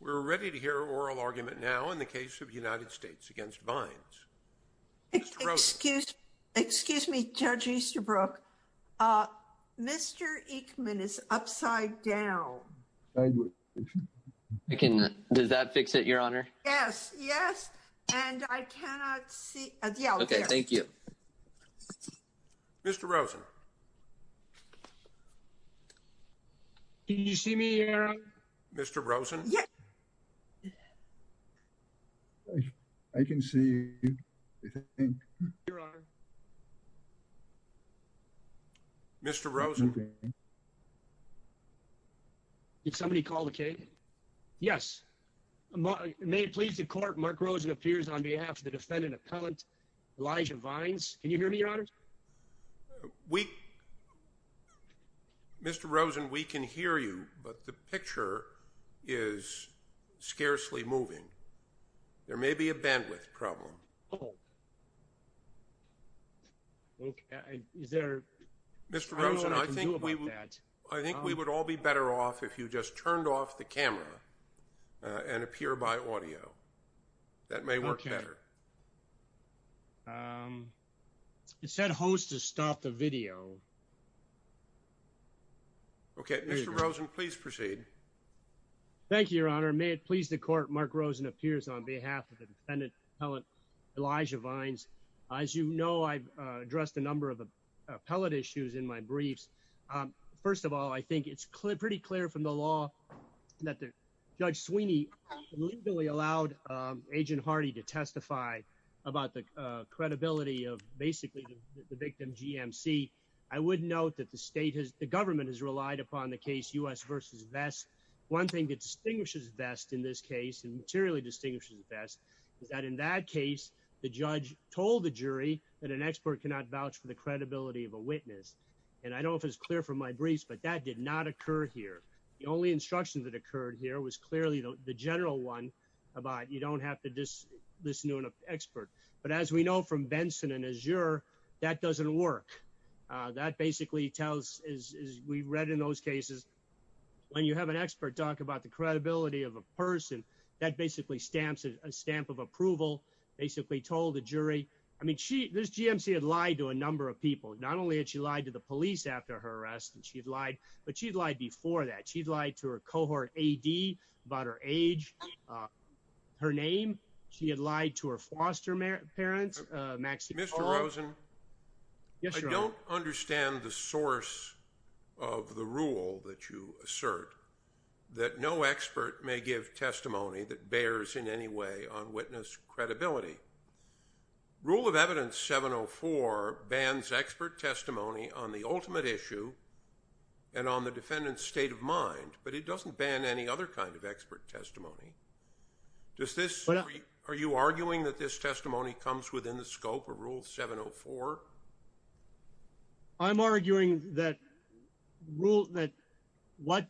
We're ready to hear oral argument now in the case of United States against vines. Excuse me, Judge Easterbrook, Mr. Ekman is upside down. I can. Does that fix it, Your Honor? Yes, yes. And I cannot see. OK, thank you, Mr. Rosen. Can you see me here, Mr. Rosen? I can see you, Your Honor. Mr. Rosen. Did somebody call the case? Yes. May it please the court. Mark Rosen appears on behalf of the defendant appellant, Elijah Vines. Can you hear me, Your Honor? We. Mr. Rosen, we can hear you, but the picture is scarcely moving. There may be a bandwidth problem. Oh, OK. Is there Mr. Rosen? I think we would. I think we would all be better off if you just turned off the camera and appear by audio. That may work better. It said host to stop the video. OK, Mr. Rosen, please proceed. Thank you, Your Honor. May it please the court. Mark Rosen appears on behalf of the defendant. Elijah Vines, as you know, I've addressed a number of appellate issues in my briefs. First of all, I think it's pretty clear from the law that Judge Sweeney legally allowed Agent Hardy to testify about the credibility of basically the victim, GMC. I would note that the state has the government has relied upon the case US versus Vest. One thing that distinguishes Vest in this case and materially distinguishes Vest is that in that case, the judge told the jury that an expert cannot vouch for the credibility of a witness. And I don't know if it's clear from my briefs, but that did not occur here. The only instruction that occurred here was clearly the general one about you don't have to just listen to an expert. But as we know from Benson and Azure, that doesn't work. That basically tells, as we read in those cases, when you have an expert talk about the credibility of a person that basically stamps a stamp of approval, basically told the jury. I mean, she this GMC had lied to a number of people. Not only had she lied to the police after her arrest and she'd lied, but she'd lied before that. She'd lied to her cohort A.D. about her age, her name. She had lied to her foster parents. Max. Mr. Rosen. Yes. I don't understand the source of the rule that you assert that no expert may give testimony that bears in any way on witness credibility. Rule of Evidence 704 bans expert testimony on the ultimate issue. And on the defendant's state of mind. But it doesn't ban any other kind of expert testimony. Does this. Are you arguing that this testimony comes within the scope of Rule 704? I'm arguing that rule that what.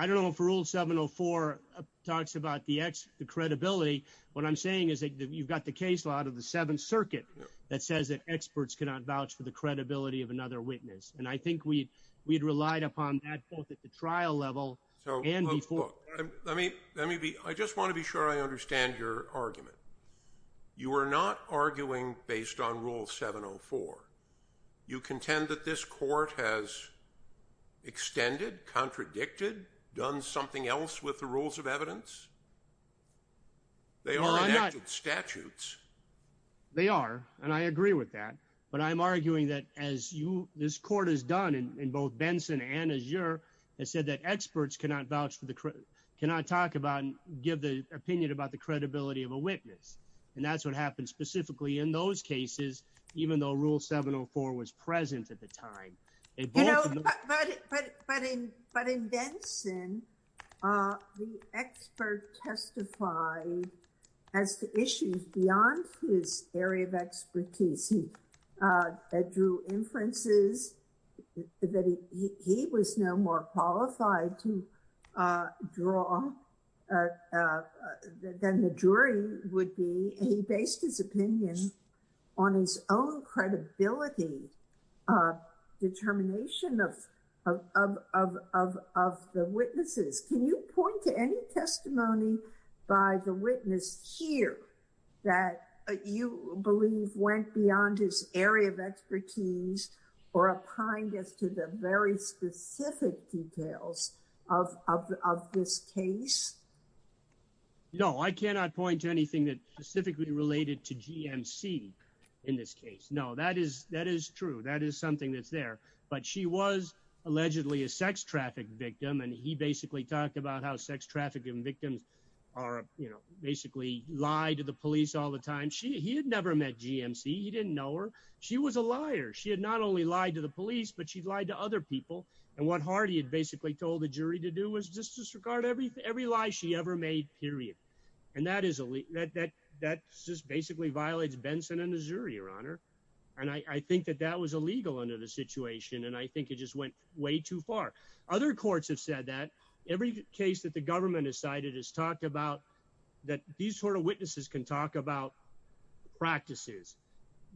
I don't know if Rule 704 talks about the X, the credibility. What I'm saying is that you've got the case out of the Seventh Circuit that says that experts cannot vouch for the credibility of another witness. And I think we we'd relied upon that both at the trial level and before. I mean, let me be I just want to be sure I understand your argument. You are not arguing based on Rule 704. You contend that this court has. Extended, contradicted, done something else with the rules of evidence. They are not statutes. They are, and I agree with that, but I'm arguing that as you this court has done in both Benson and Azure, they said that experts cannot vouch for the cannot talk about and give the opinion about the credibility of a witness. And that's what happened specifically in those cases, even though Rule 704 was present at the time. You know, but, but, but in, but in Benson, the expert testified as to issues beyond his area of expertise. He drew inferences that he was no more qualified to draw than the jury would be. He based his opinion on his own credibility, determination of, of, of, of, of the witnesses. Can you point to any testimony by the witness here that you believe went beyond his area of expertise? Or applying this to the very specific details of, of, of this case? No, I cannot point to anything that specifically related to GMC in this case. No, that is, that is true. That is something that's there, but she was allegedly a sex traffic victim. And he basically talked about how sex traffic and victims are, you know, basically lied to the police all the time. She, he had never met GMC. He didn't know her. She was a liar. She had not only lied to the police, but she'd lied to other people. And what Hardy had basically told the jury to do was just disregard every, every lie she ever made, period. And that is that, that, that just basically violates Benson and the jury, Your Honor. And I think that that was illegal under the situation. And I think it just went way too far. Other courts have said that every case that the government has cited has talked about that these sort of witnesses can talk about practices.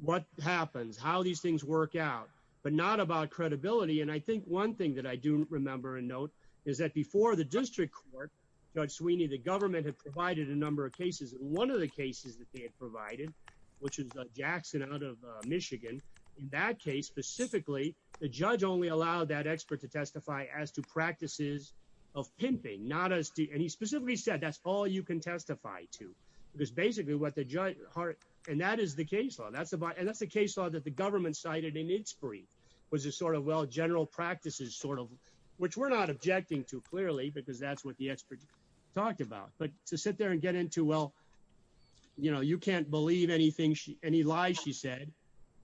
What happens, how these things work out, but not about credibility. And I think one thing that I do remember and note is that before the district court, Judge Sweeney, the government had provided a number of cases. One of the cases that they had provided, which was Jackson out of Michigan. In that case, specifically, the judge only allowed that expert to testify as to practices of pimping, not as to, and he specifically said, that's all you can testify to. Because basically what the judge, and that is the case law. And that's the case law that the government cited in its brief was a sort of, well, general practices, sort of, which we're not objecting to clearly because that's what the expert talked about. But to sit there and get into, well, you know, you can't believe anything, any lies she said,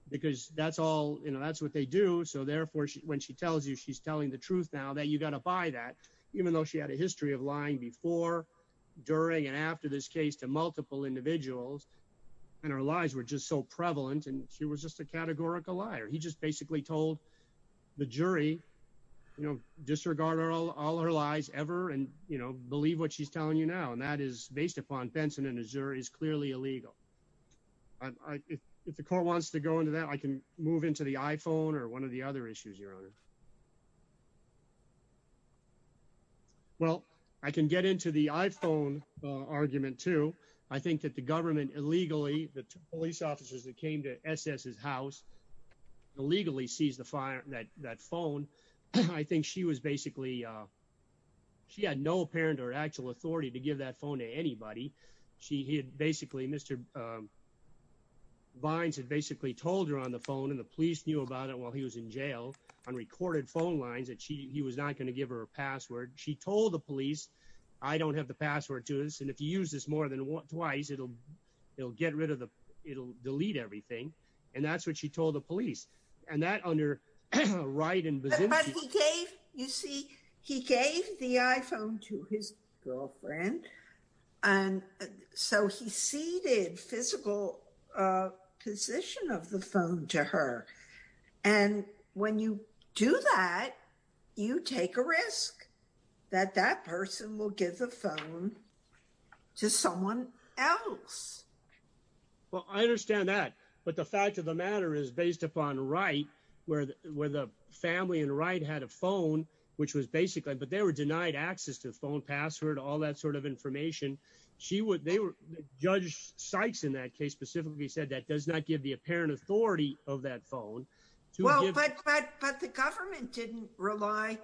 because that's all, you know, that's what they do. So therefore, when she tells you she's telling the truth now that you got to buy that, even though she had a history of lying before, during, and after this case to multiple individuals. And our lives were just so prevalent and she was just a categorical liar, he just basically told the jury, you know, disregard all our lives ever and, you know, believe what she's telling you now and that is based upon Benson in Missouri is clearly illegal. If the court wants to go into that I can move into the iPhone or one of the other issues your honor. Well, I can get into the iPhone argument too. I think that the government illegally the police officers that came to SS his house illegally sees the fire that that phone. I think she was basically. She had no apparent or actual authority to give that phone to anybody. She had basically Mr. Vines had basically told her on the phone and the police knew about it while he was in jail on recorded phone lines that she was not going to give her a password. She told the police. I don't have the password to this and if you use this more than twice it'll, it'll get rid of the, it'll delete everything. And that's what she told the police, and that under right and you see, he gave the iPhone to his girlfriend. And so he ceded physical position of the phone to her. And when you do that, you take a risk that that person will give the phone to someone else. Well, I understand that, but the fact of the matter is based upon right where, where the family and right had a phone, which was basically, but they were denied access to the phone password, all that sort of information. She would, they were judge Sykes in that case specifically said that does not give the apparent authority of that phone. Well, but, but, but the government didn't rely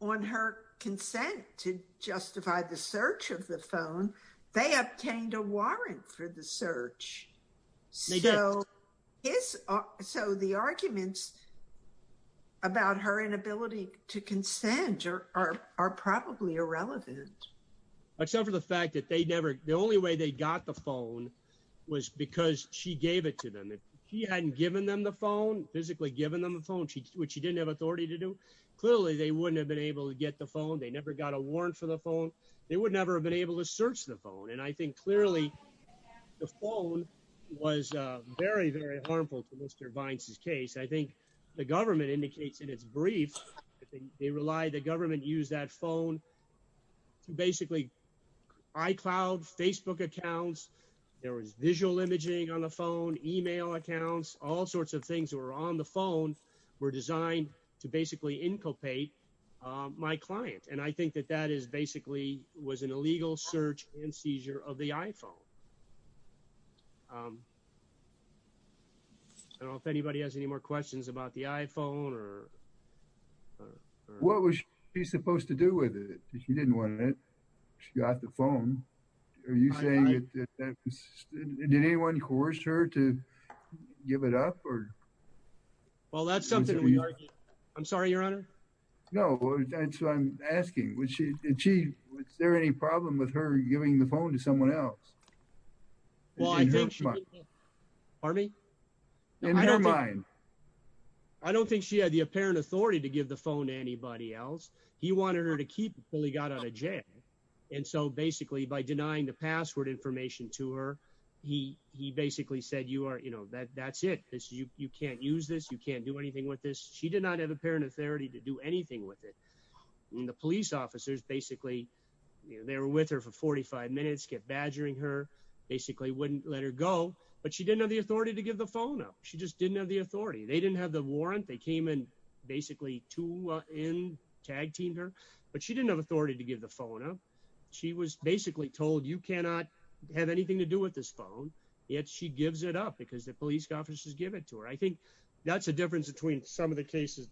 on her consent to justify the search of the phone. They obtained a warrant for the search. So, so the arguments about her inability to consent are, are, are probably irrelevant. Except for the fact that they never, the only way they got the phone was because she gave it to them. If he hadn't given them the phone physically given them a phone, which he didn't have authority to do. Clearly, they wouldn't have been able to get the phone. They never got a warrant for the phone. They would never have been able to search the phone. And I think clearly the phone was very, very harmful to Mr. Vines's case. I think the government indicates in its brief, they rely the government use that phone to basically iCloud Facebook accounts. There was visual imaging on the phone, email accounts, all sorts of things that were on the phone were designed to basically inculcate my client. And I think that that is basically was an illegal search and seizure of the iPhone. I don't know if anybody has any more questions about the iPhone or. What was he supposed to do with it? He didn't want it. She got the phone. Are you saying that anyone coerced her to give it up or. Well, that's something we argue. I'm sorry, Your Honor. No, that's what I'm asking. Would she achieve? Is there any problem with her giving the phone to someone else? Well, I think she. Pardon me? In her mind. I don't think she had the apparent authority to give the phone to anybody else. He wanted her to keep it until he got out of jail. And so basically by denying the password information to her, he he basically said, you are you know, that that's it. You can't use this. You can't do anything with this. She did not have apparent authority to do anything with it. The police officers basically they were with her for 45 minutes, kept badgering her, basically wouldn't let her go. But she didn't have the authority to give the phone up. She just didn't have the authority. They didn't have the warrant. They came in basically to in tag team her. But she didn't have authority to give the phone up. She was basically told you cannot have anything to do with this phone. Yet she gives it up because the police officers give it to her. I think that's a difference between some of the cases.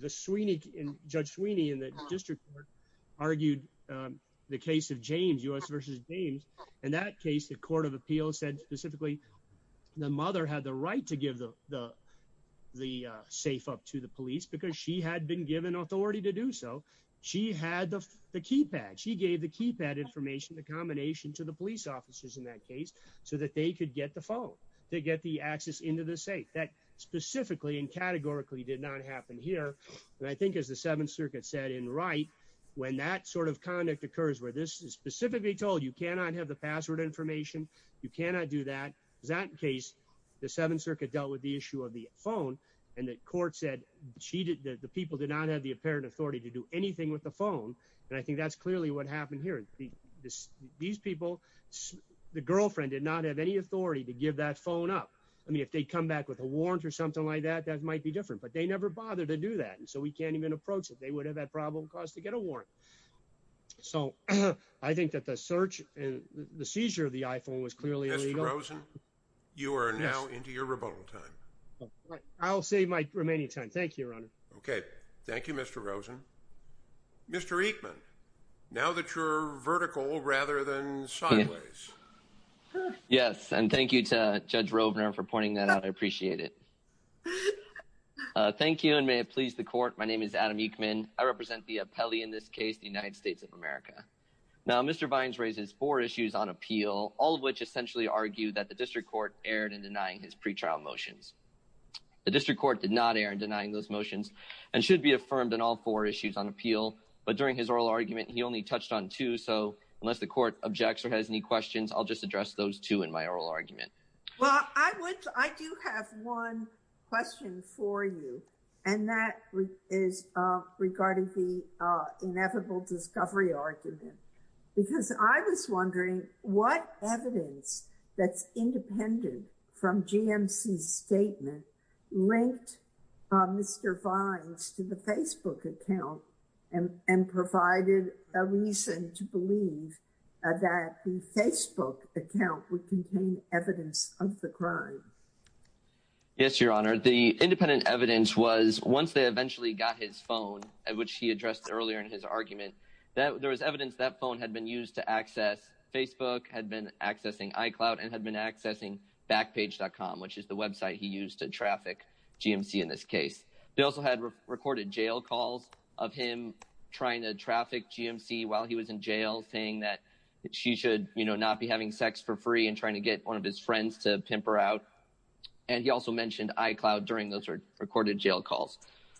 The Sweeney and Judge Sweeney in the district argued the case of James U.S. versus James. In that case, the court of appeals said specifically the mother had the right to give the the safe up to the police because she had been given authority to do so. She had the keypad. She gave the keypad information, the combination to the police officers in that case so that they could get the phone. They get the access into the safe that specifically and categorically did not happen here. And I think as the Seventh Circuit said in right when that sort of conduct occurs where this is specifically told you cannot have the password information, you cannot do that. That case, the Seventh Circuit dealt with the issue of the phone and the court said she did. The people did not have the apparent authority to do anything with the phone. And I think that's clearly what happened here. These people, the girlfriend did not have any authority to give that phone up. I mean, if they come back with a warrant or something like that, that might be different. But they never bothered to do that. And so we can't even approach it. They would have that problem caused to get a warrant. So I think that the search and the seizure of the iPhone was clearly illegal. Rosen, you are now into your rebuttal time. I'll save my remaining time. Thank you, Ron. OK, thank you, Mr. Rosen. Mr. Ekman, now that you're vertical rather than sideways. Yes. And thank you to Judge Rovner for pointing that out. I appreciate it. Thank you. And may it please the court. My name is Adam Ekman. I represent the appellee in this case, the United States of America. Now, Mr. Vines raises four issues on appeal, all of which essentially argue that the district court erred in denying his pretrial motions. The district court did not err in denying those motions and should be affirmed in all four issues on appeal. But during his oral argument, he only touched on two. So unless the court objects or has any questions, I'll just address those two in my oral argument. Well, I do have one question for you, and that is regarding the inevitable discovery argument, because I was wondering what evidence that's independent from GMC's statement linked Mr. Vines to the Facebook account and provided a reason to believe that the Facebook account would contain evidence of the crime. Yes, Your Honor. The independent evidence was once they eventually got his phone, which he addressed earlier in his argument, that there was evidence that phone had been used to access Facebook, had been accessing iCloud and had been accessing Backpage.com, which is the website he used to traffic GMC in this case. They also had recorded jail calls of him trying to traffic GMC while he was in jail, saying that she should not be having sex for free and trying to get one of his friends to pimp her out. And he also mentioned iCloud during those recorded jail calls.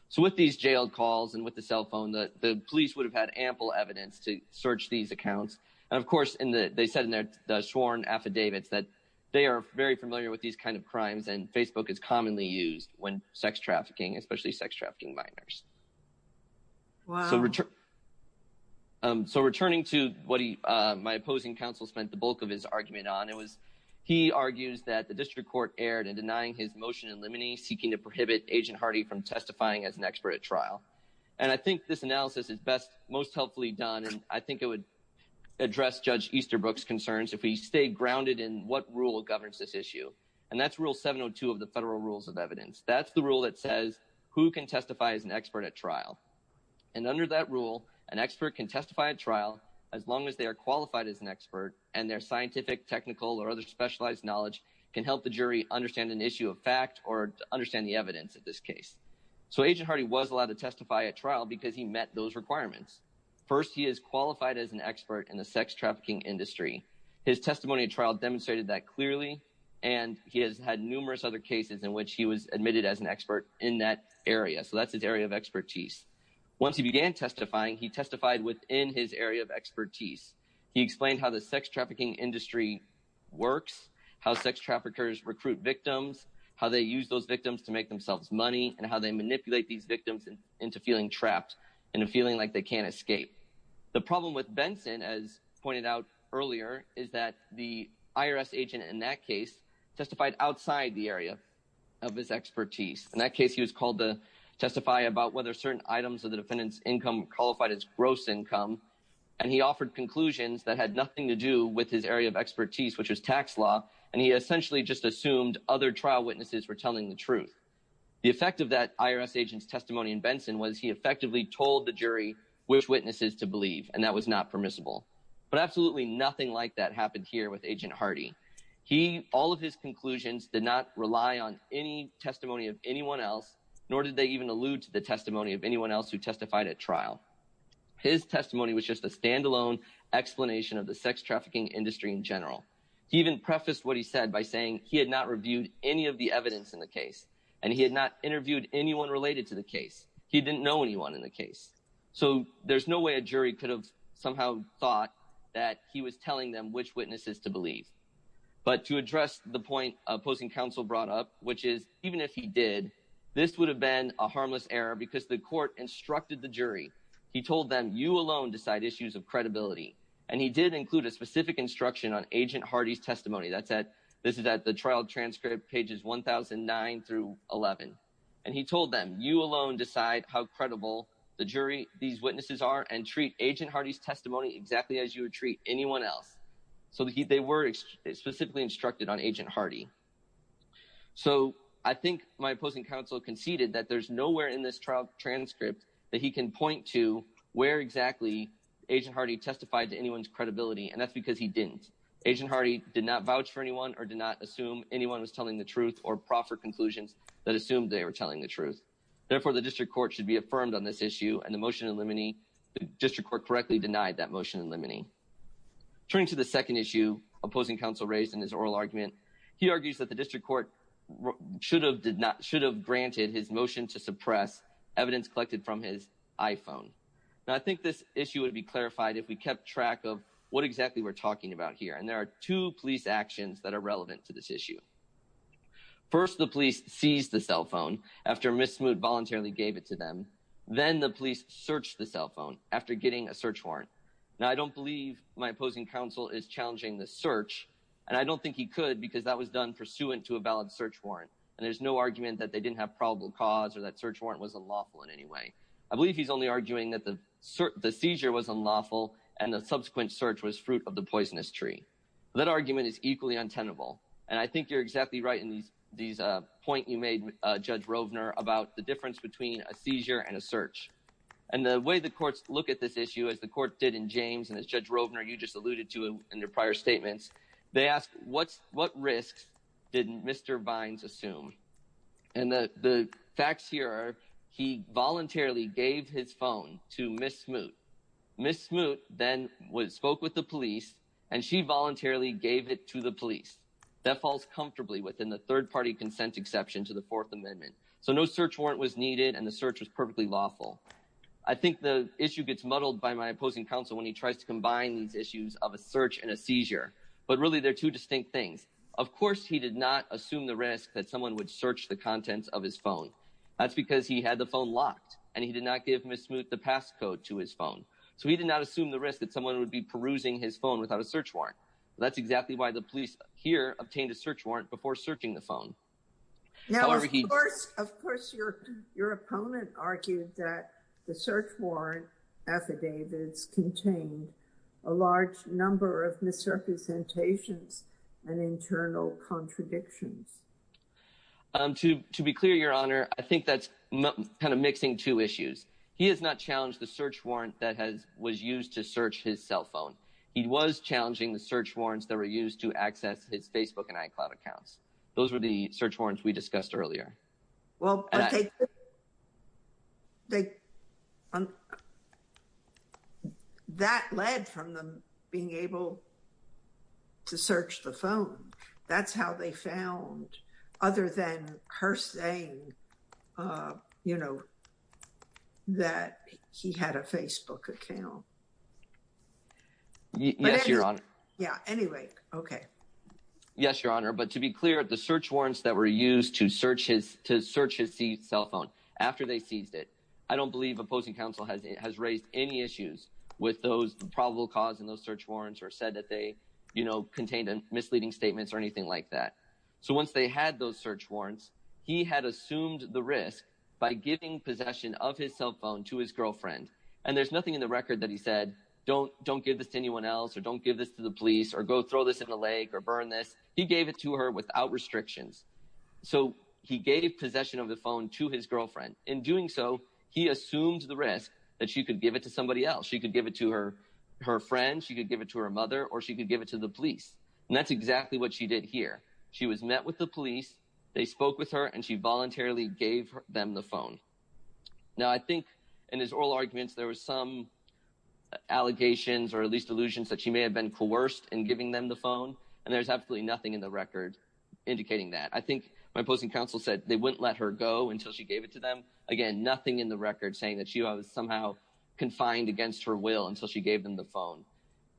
So with these jailed calls and with the cell phone, the police would have had ample evidence to search these accounts. And of course, they said in their sworn affidavits that they are very familiar with these kind of crimes and Facebook is commonly used when sex trafficking, especially sex trafficking minors. Wow. So returning to what my opposing counsel spent the bulk of his argument on, he argues that the district court erred in denying his motion in limine seeking to prohibit Agent Hardy from testifying as an expert at trial. And I think this analysis is most helpfully done, and I think it would address Judge Easterbrook's concerns if we stay grounded in what rule governs this issue. And that's rule 702 of the federal rules of evidence. That's the rule that says who can testify as an expert at trial. And under that rule, an expert can testify at trial as long as they are qualified as an expert and their scientific, technical or other specialized knowledge can help the jury understand an issue of fact or understand the evidence of this case. So Agent Hardy was allowed to testify at trial because he met those requirements. First, he is qualified as an expert in the sex trafficking industry. His testimony at trial demonstrated that clearly, and he has had numerous other cases in which he was admitted as an expert in that area. So that's his area of expertise. Once he began testifying, he testified within his area of expertise. He explained how the sex trafficking industry works, how sex traffickers recruit victims, how they use those victims to make themselves money, and how they manipulate these victims into feeling trapped and feeling like they can't escape. The problem with Benson, as pointed out earlier, is that the IRS agent in that case testified outside the area of his expertise. In that case, he was called to testify about whether certain items of the defendant's income qualified as gross income. And he offered conclusions that had nothing to do with his area of expertise, which was tax law. And he essentially just assumed other trial witnesses were telling the truth. The effect of that IRS agent's testimony in Benson was he effectively told the jury which witnesses to believe, and that was not permissible. But absolutely nothing like that happened here with Agent Hardy. All of his conclusions did not rely on any testimony of anyone else, nor did they even allude to the testimony of anyone else who testified at trial. His testimony was just a standalone explanation of the sex trafficking industry in general. He even prefaced what he said by saying he had not reviewed any of the evidence in the case, and he had not interviewed anyone related to the case. He didn't know anyone in the case. So there's no way a jury could have somehow thought that he was telling them which witnesses to believe. But to address the point opposing counsel brought up, which is even if he did, this would have been a harmless error because the court instructed the jury. He told them, you alone decide issues of credibility. And he did include a specific instruction on Agent Hardy's testimony. This is at the trial transcript, pages 1009 through 11. And he told them, you alone decide how credible the jury these witnesses are and treat Agent Hardy's testimony exactly as you would treat anyone else. So they were specifically instructed on Agent Hardy. So I think my opposing counsel conceded that there's nowhere in this trial transcript that he can point to where exactly Agent Hardy testified to anyone's credibility, and that's because he didn't. Agent Hardy did not vouch for anyone or did not assume anyone was telling the truth or proffer conclusions that assumed they were telling the truth. Therefore, the district court should be affirmed on this issue, and the motion in limine, the district court correctly denied that motion in limine. Turning to the second issue opposing counsel raised in his oral argument, he argues that the district court should have granted his motion to suppress evidence collected from his iPhone. Now, I think this issue would be clarified if we kept track of what exactly we're talking about here. And there are two police actions that are relevant to this issue. First, the police seized the cell phone after Ms. Smoot voluntarily gave it to them. Then the police searched the cell phone after getting a search warrant. Now, I don't believe my opposing counsel is challenging the search, and I don't think he could because that was done pursuant to a valid search warrant. And there's no argument that they didn't have probable cause or that search warrant was unlawful in any way. I believe he's only arguing that the seizure was unlawful and the subsequent search was fruit of the poisonous tree. That argument is equally untenable, and I think you're exactly right in these point you made, Judge Rovner, about the difference between a seizure and a search. And the way the courts look at this issue, as the court did in James and as Judge Rovner, you just alluded to in your prior statements, they ask, what risks did Mr. Bynes assume? And the facts here are he voluntarily gave his phone to Ms. Smoot. Ms. Smoot then spoke with the police, and she voluntarily gave it to the police. That falls comfortably within the third-party consent exception to the Fourth Amendment. So no search warrant was needed, and the search was perfectly lawful. I think the issue gets muddled by my opposing counsel when he tries to combine these issues of a search and a seizure. But really, they're two distinct things. Of course he did not assume the risk that someone would search the contents of his phone. That's because he had the phone locked, and he did not give Ms. Smoot the passcode to his phone. So he did not assume the risk that someone would be perusing his phone without a search warrant. That's exactly why the police here obtained a search warrant before searching the phone. Now, of course your opponent argued that the search warrant affidavits contained a large number of misrepresentations and internal contradictions. To be clear, Your Honor, I think that's kind of mixing two issues. He has not challenged the search warrant that was used to search his cell phone. He was challenging the search warrants that were used to access his Facebook and iCloud accounts. Those were the search warrants we discussed earlier. Well, that led from them being able to search the phone. That's how they found, other than her saying, you know, that he had a Facebook account. Yes, Your Honor. Yeah, anyway, okay. Yes, Your Honor, but to be clear, the search warrants that were used to search his cell phone after they seized it, I don't believe opposing counsel has raised any issues with those probable cause in those search warrants or said that they contained misleading statements or anything like that. So once they had those search warrants, he had assumed the risk by giving possession of his cell phone to his girlfriend. And there's nothing in the record that he said, don't give this to anyone else or don't give this to the police or go throw this in the lake or burn this. He gave it to her without restrictions. So he gave possession of the phone to his girlfriend. In doing so, he assumed the risk that she could give it to somebody else. She could give it to her friend, she could give it to her mother, or she could give it to the police. And that's exactly what she did here. She was met with the police, they spoke with her, and she voluntarily gave them the phone. Now I think in his oral arguments there were some allegations or at least allusions that she may have been coerced in giving them the phone. And there's absolutely nothing in the record indicating that. I think my opposing counsel said they wouldn't let her go until she gave it to them. Again, nothing in the record saying that she was somehow confined against her will until she gave them the phone.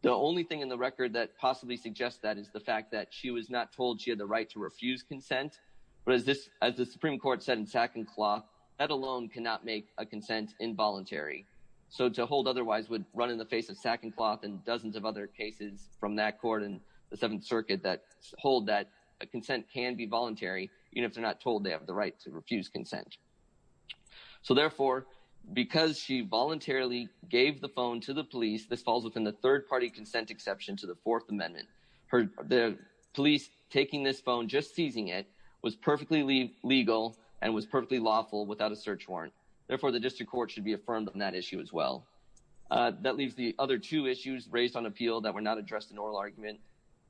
The only thing in the record that possibly suggests that is the fact that she was not told she had the right to refuse consent. But as the Supreme Court said in Sack and Cloth, that alone cannot make a consent involuntary. So to hold otherwise would run in the face of Sack and Cloth and dozens of other cases from that court and the Seventh Circuit that hold that a consent can be voluntary even if they're not told they have the right to refuse consent. So therefore, because she voluntarily gave the phone to the police, this falls within the third-party consent exception to the Fourth Amendment. The police taking this phone, just seizing it, was perfectly legal and was perfectly lawful without a search warrant. Therefore, the district court should be affirmed on that issue as well. That leaves the other two issues raised on appeal that were not addressed in oral argument.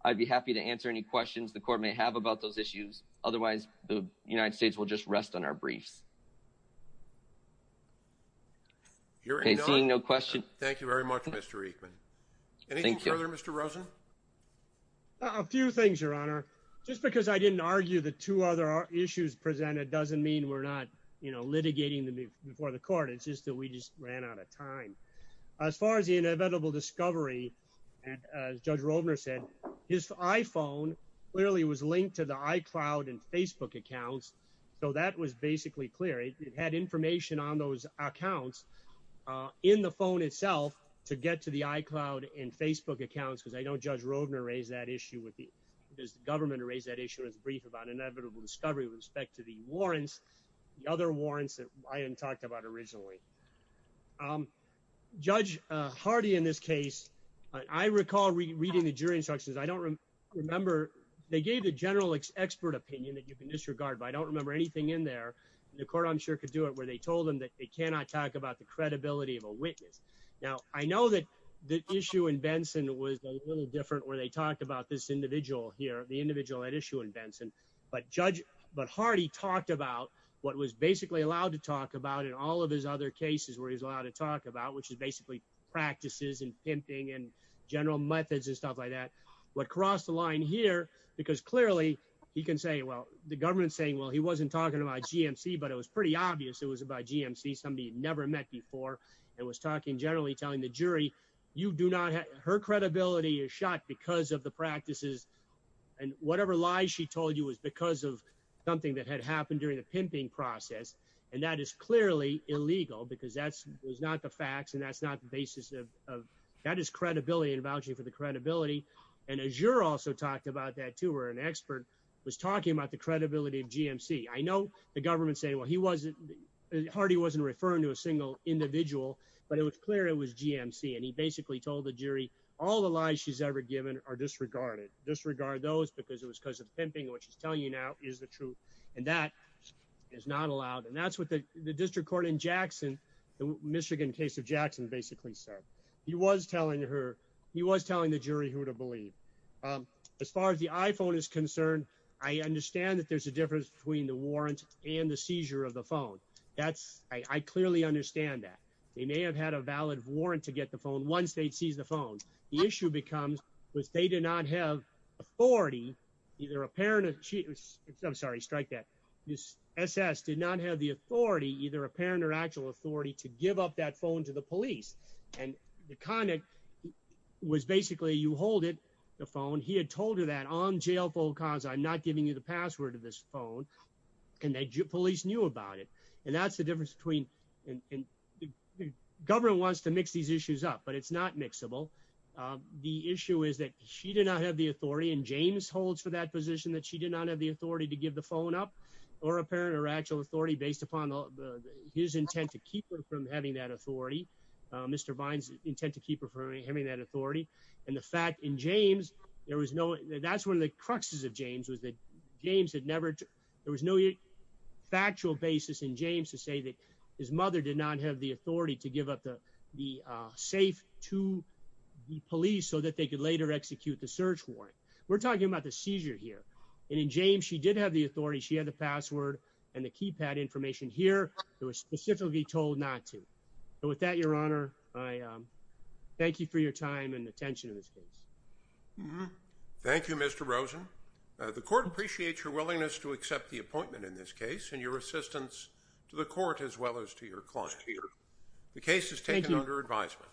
I'd be happy to answer any questions the court may have about those issues. Otherwise, the United States will just rest on our briefs. Seeing no question. Thank you very much, Mr. Eichmann. Anything further, Mr. Rosen? A few things, Your Honor. Just because I didn't argue the two other issues presented doesn't mean we're not litigating them before the court. It's just that we just ran out of time. As far as the inevitable discovery, as Judge Rovner said, his iPhone clearly was linked to the iCloud and Facebook accounts. So that was basically clear. It had information on those accounts in the phone itself to get to the iCloud and Facebook accounts, because I know Judge Rovner raised that issue with the government, raised that issue in his brief about inevitable discovery with respect to the warrants, the other warrants that Ryan talked about originally. Judge Hardy, in this case, I recall reading the jury instructions. I don't remember. They gave the general expert opinion that you can disregard, but I don't remember anything in there. The court, I'm sure, could do it where they told them that they cannot talk about the credibility of a witness. Now, I know that the issue in Benson was a little different where they talked about this individual here, the individual at issue in Benson. But Judge Hardy talked about what was basically allowed to talk about in all of his other cases where he was allowed to talk about, which is basically practices and pimping and general methods and stuff like that. What crossed the line here, because clearly he can say, well, the government's saying, well, he wasn't talking about GMC, but it was pretty obvious it was about GMC, somebody he'd never met before, and was talking generally telling the jury you do not have her credibility is shot because of the practices. And whatever lies she told you was because of something that had happened during the pimping process. And that is clearly illegal because that's not the facts and that's not the basis of that is credibility and vouching for the credibility. And Azure also talked about that, too, where an expert was talking about the credibility of GMC. I know the government say, well, he wasn't Hardy wasn't referring to a single individual, but it was clear it was GMC. And he basically told the jury all the lies she's ever given are disregarded, disregard those because it was because of pimping, which is telling you now is the truth. And that is not allowed. And that's what the district court in Jackson, the Michigan case of Jackson, basically said. He was telling her he was telling the jury who to believe. As far as the iPhone is concerned, I understand that there's a difference between the warrant and the seizure of the phone. That's I clearly understand that they may have had a valid warrant to get the phone once they seize the phone. The issue becomes was they did not have authority. I'm sorry. Strike that. This SS did not have the authority, either apparent or actual authority to give up that phone to the police. And the conduct was basically you hold it. The phone. He had told her that on jail for cause. I'm not giving you the password to this phone. And the police knew about it. And that's the difference between the government wants to mix these issues up, but it's not mixable. The issue is that she did not have the authority. And James holds for that position that she did not have the authority to give the phone up or apparent or actual authority based upon his intent to keep her from having that authority. Mr. Bynes intent to keep her from having that authority. And the fact in James, there was no that's one of the cruxes of James was that James had never. There was no factual basis in James to say that his mother did not have the authority to give up the safe to the police so that they could later execute the search warrant. We're talking about the seizure here. And in James, she did have the authority. She had the password and the keypad information here. It was specifically told not to. And with that, Your Honor, I thank you for your time and attention in this case. Thank you, Mr. Rosen. The court appreciates your willingness to accept the appointment in this case and your assistance to the court as well as to your client. The case is taken under advisement.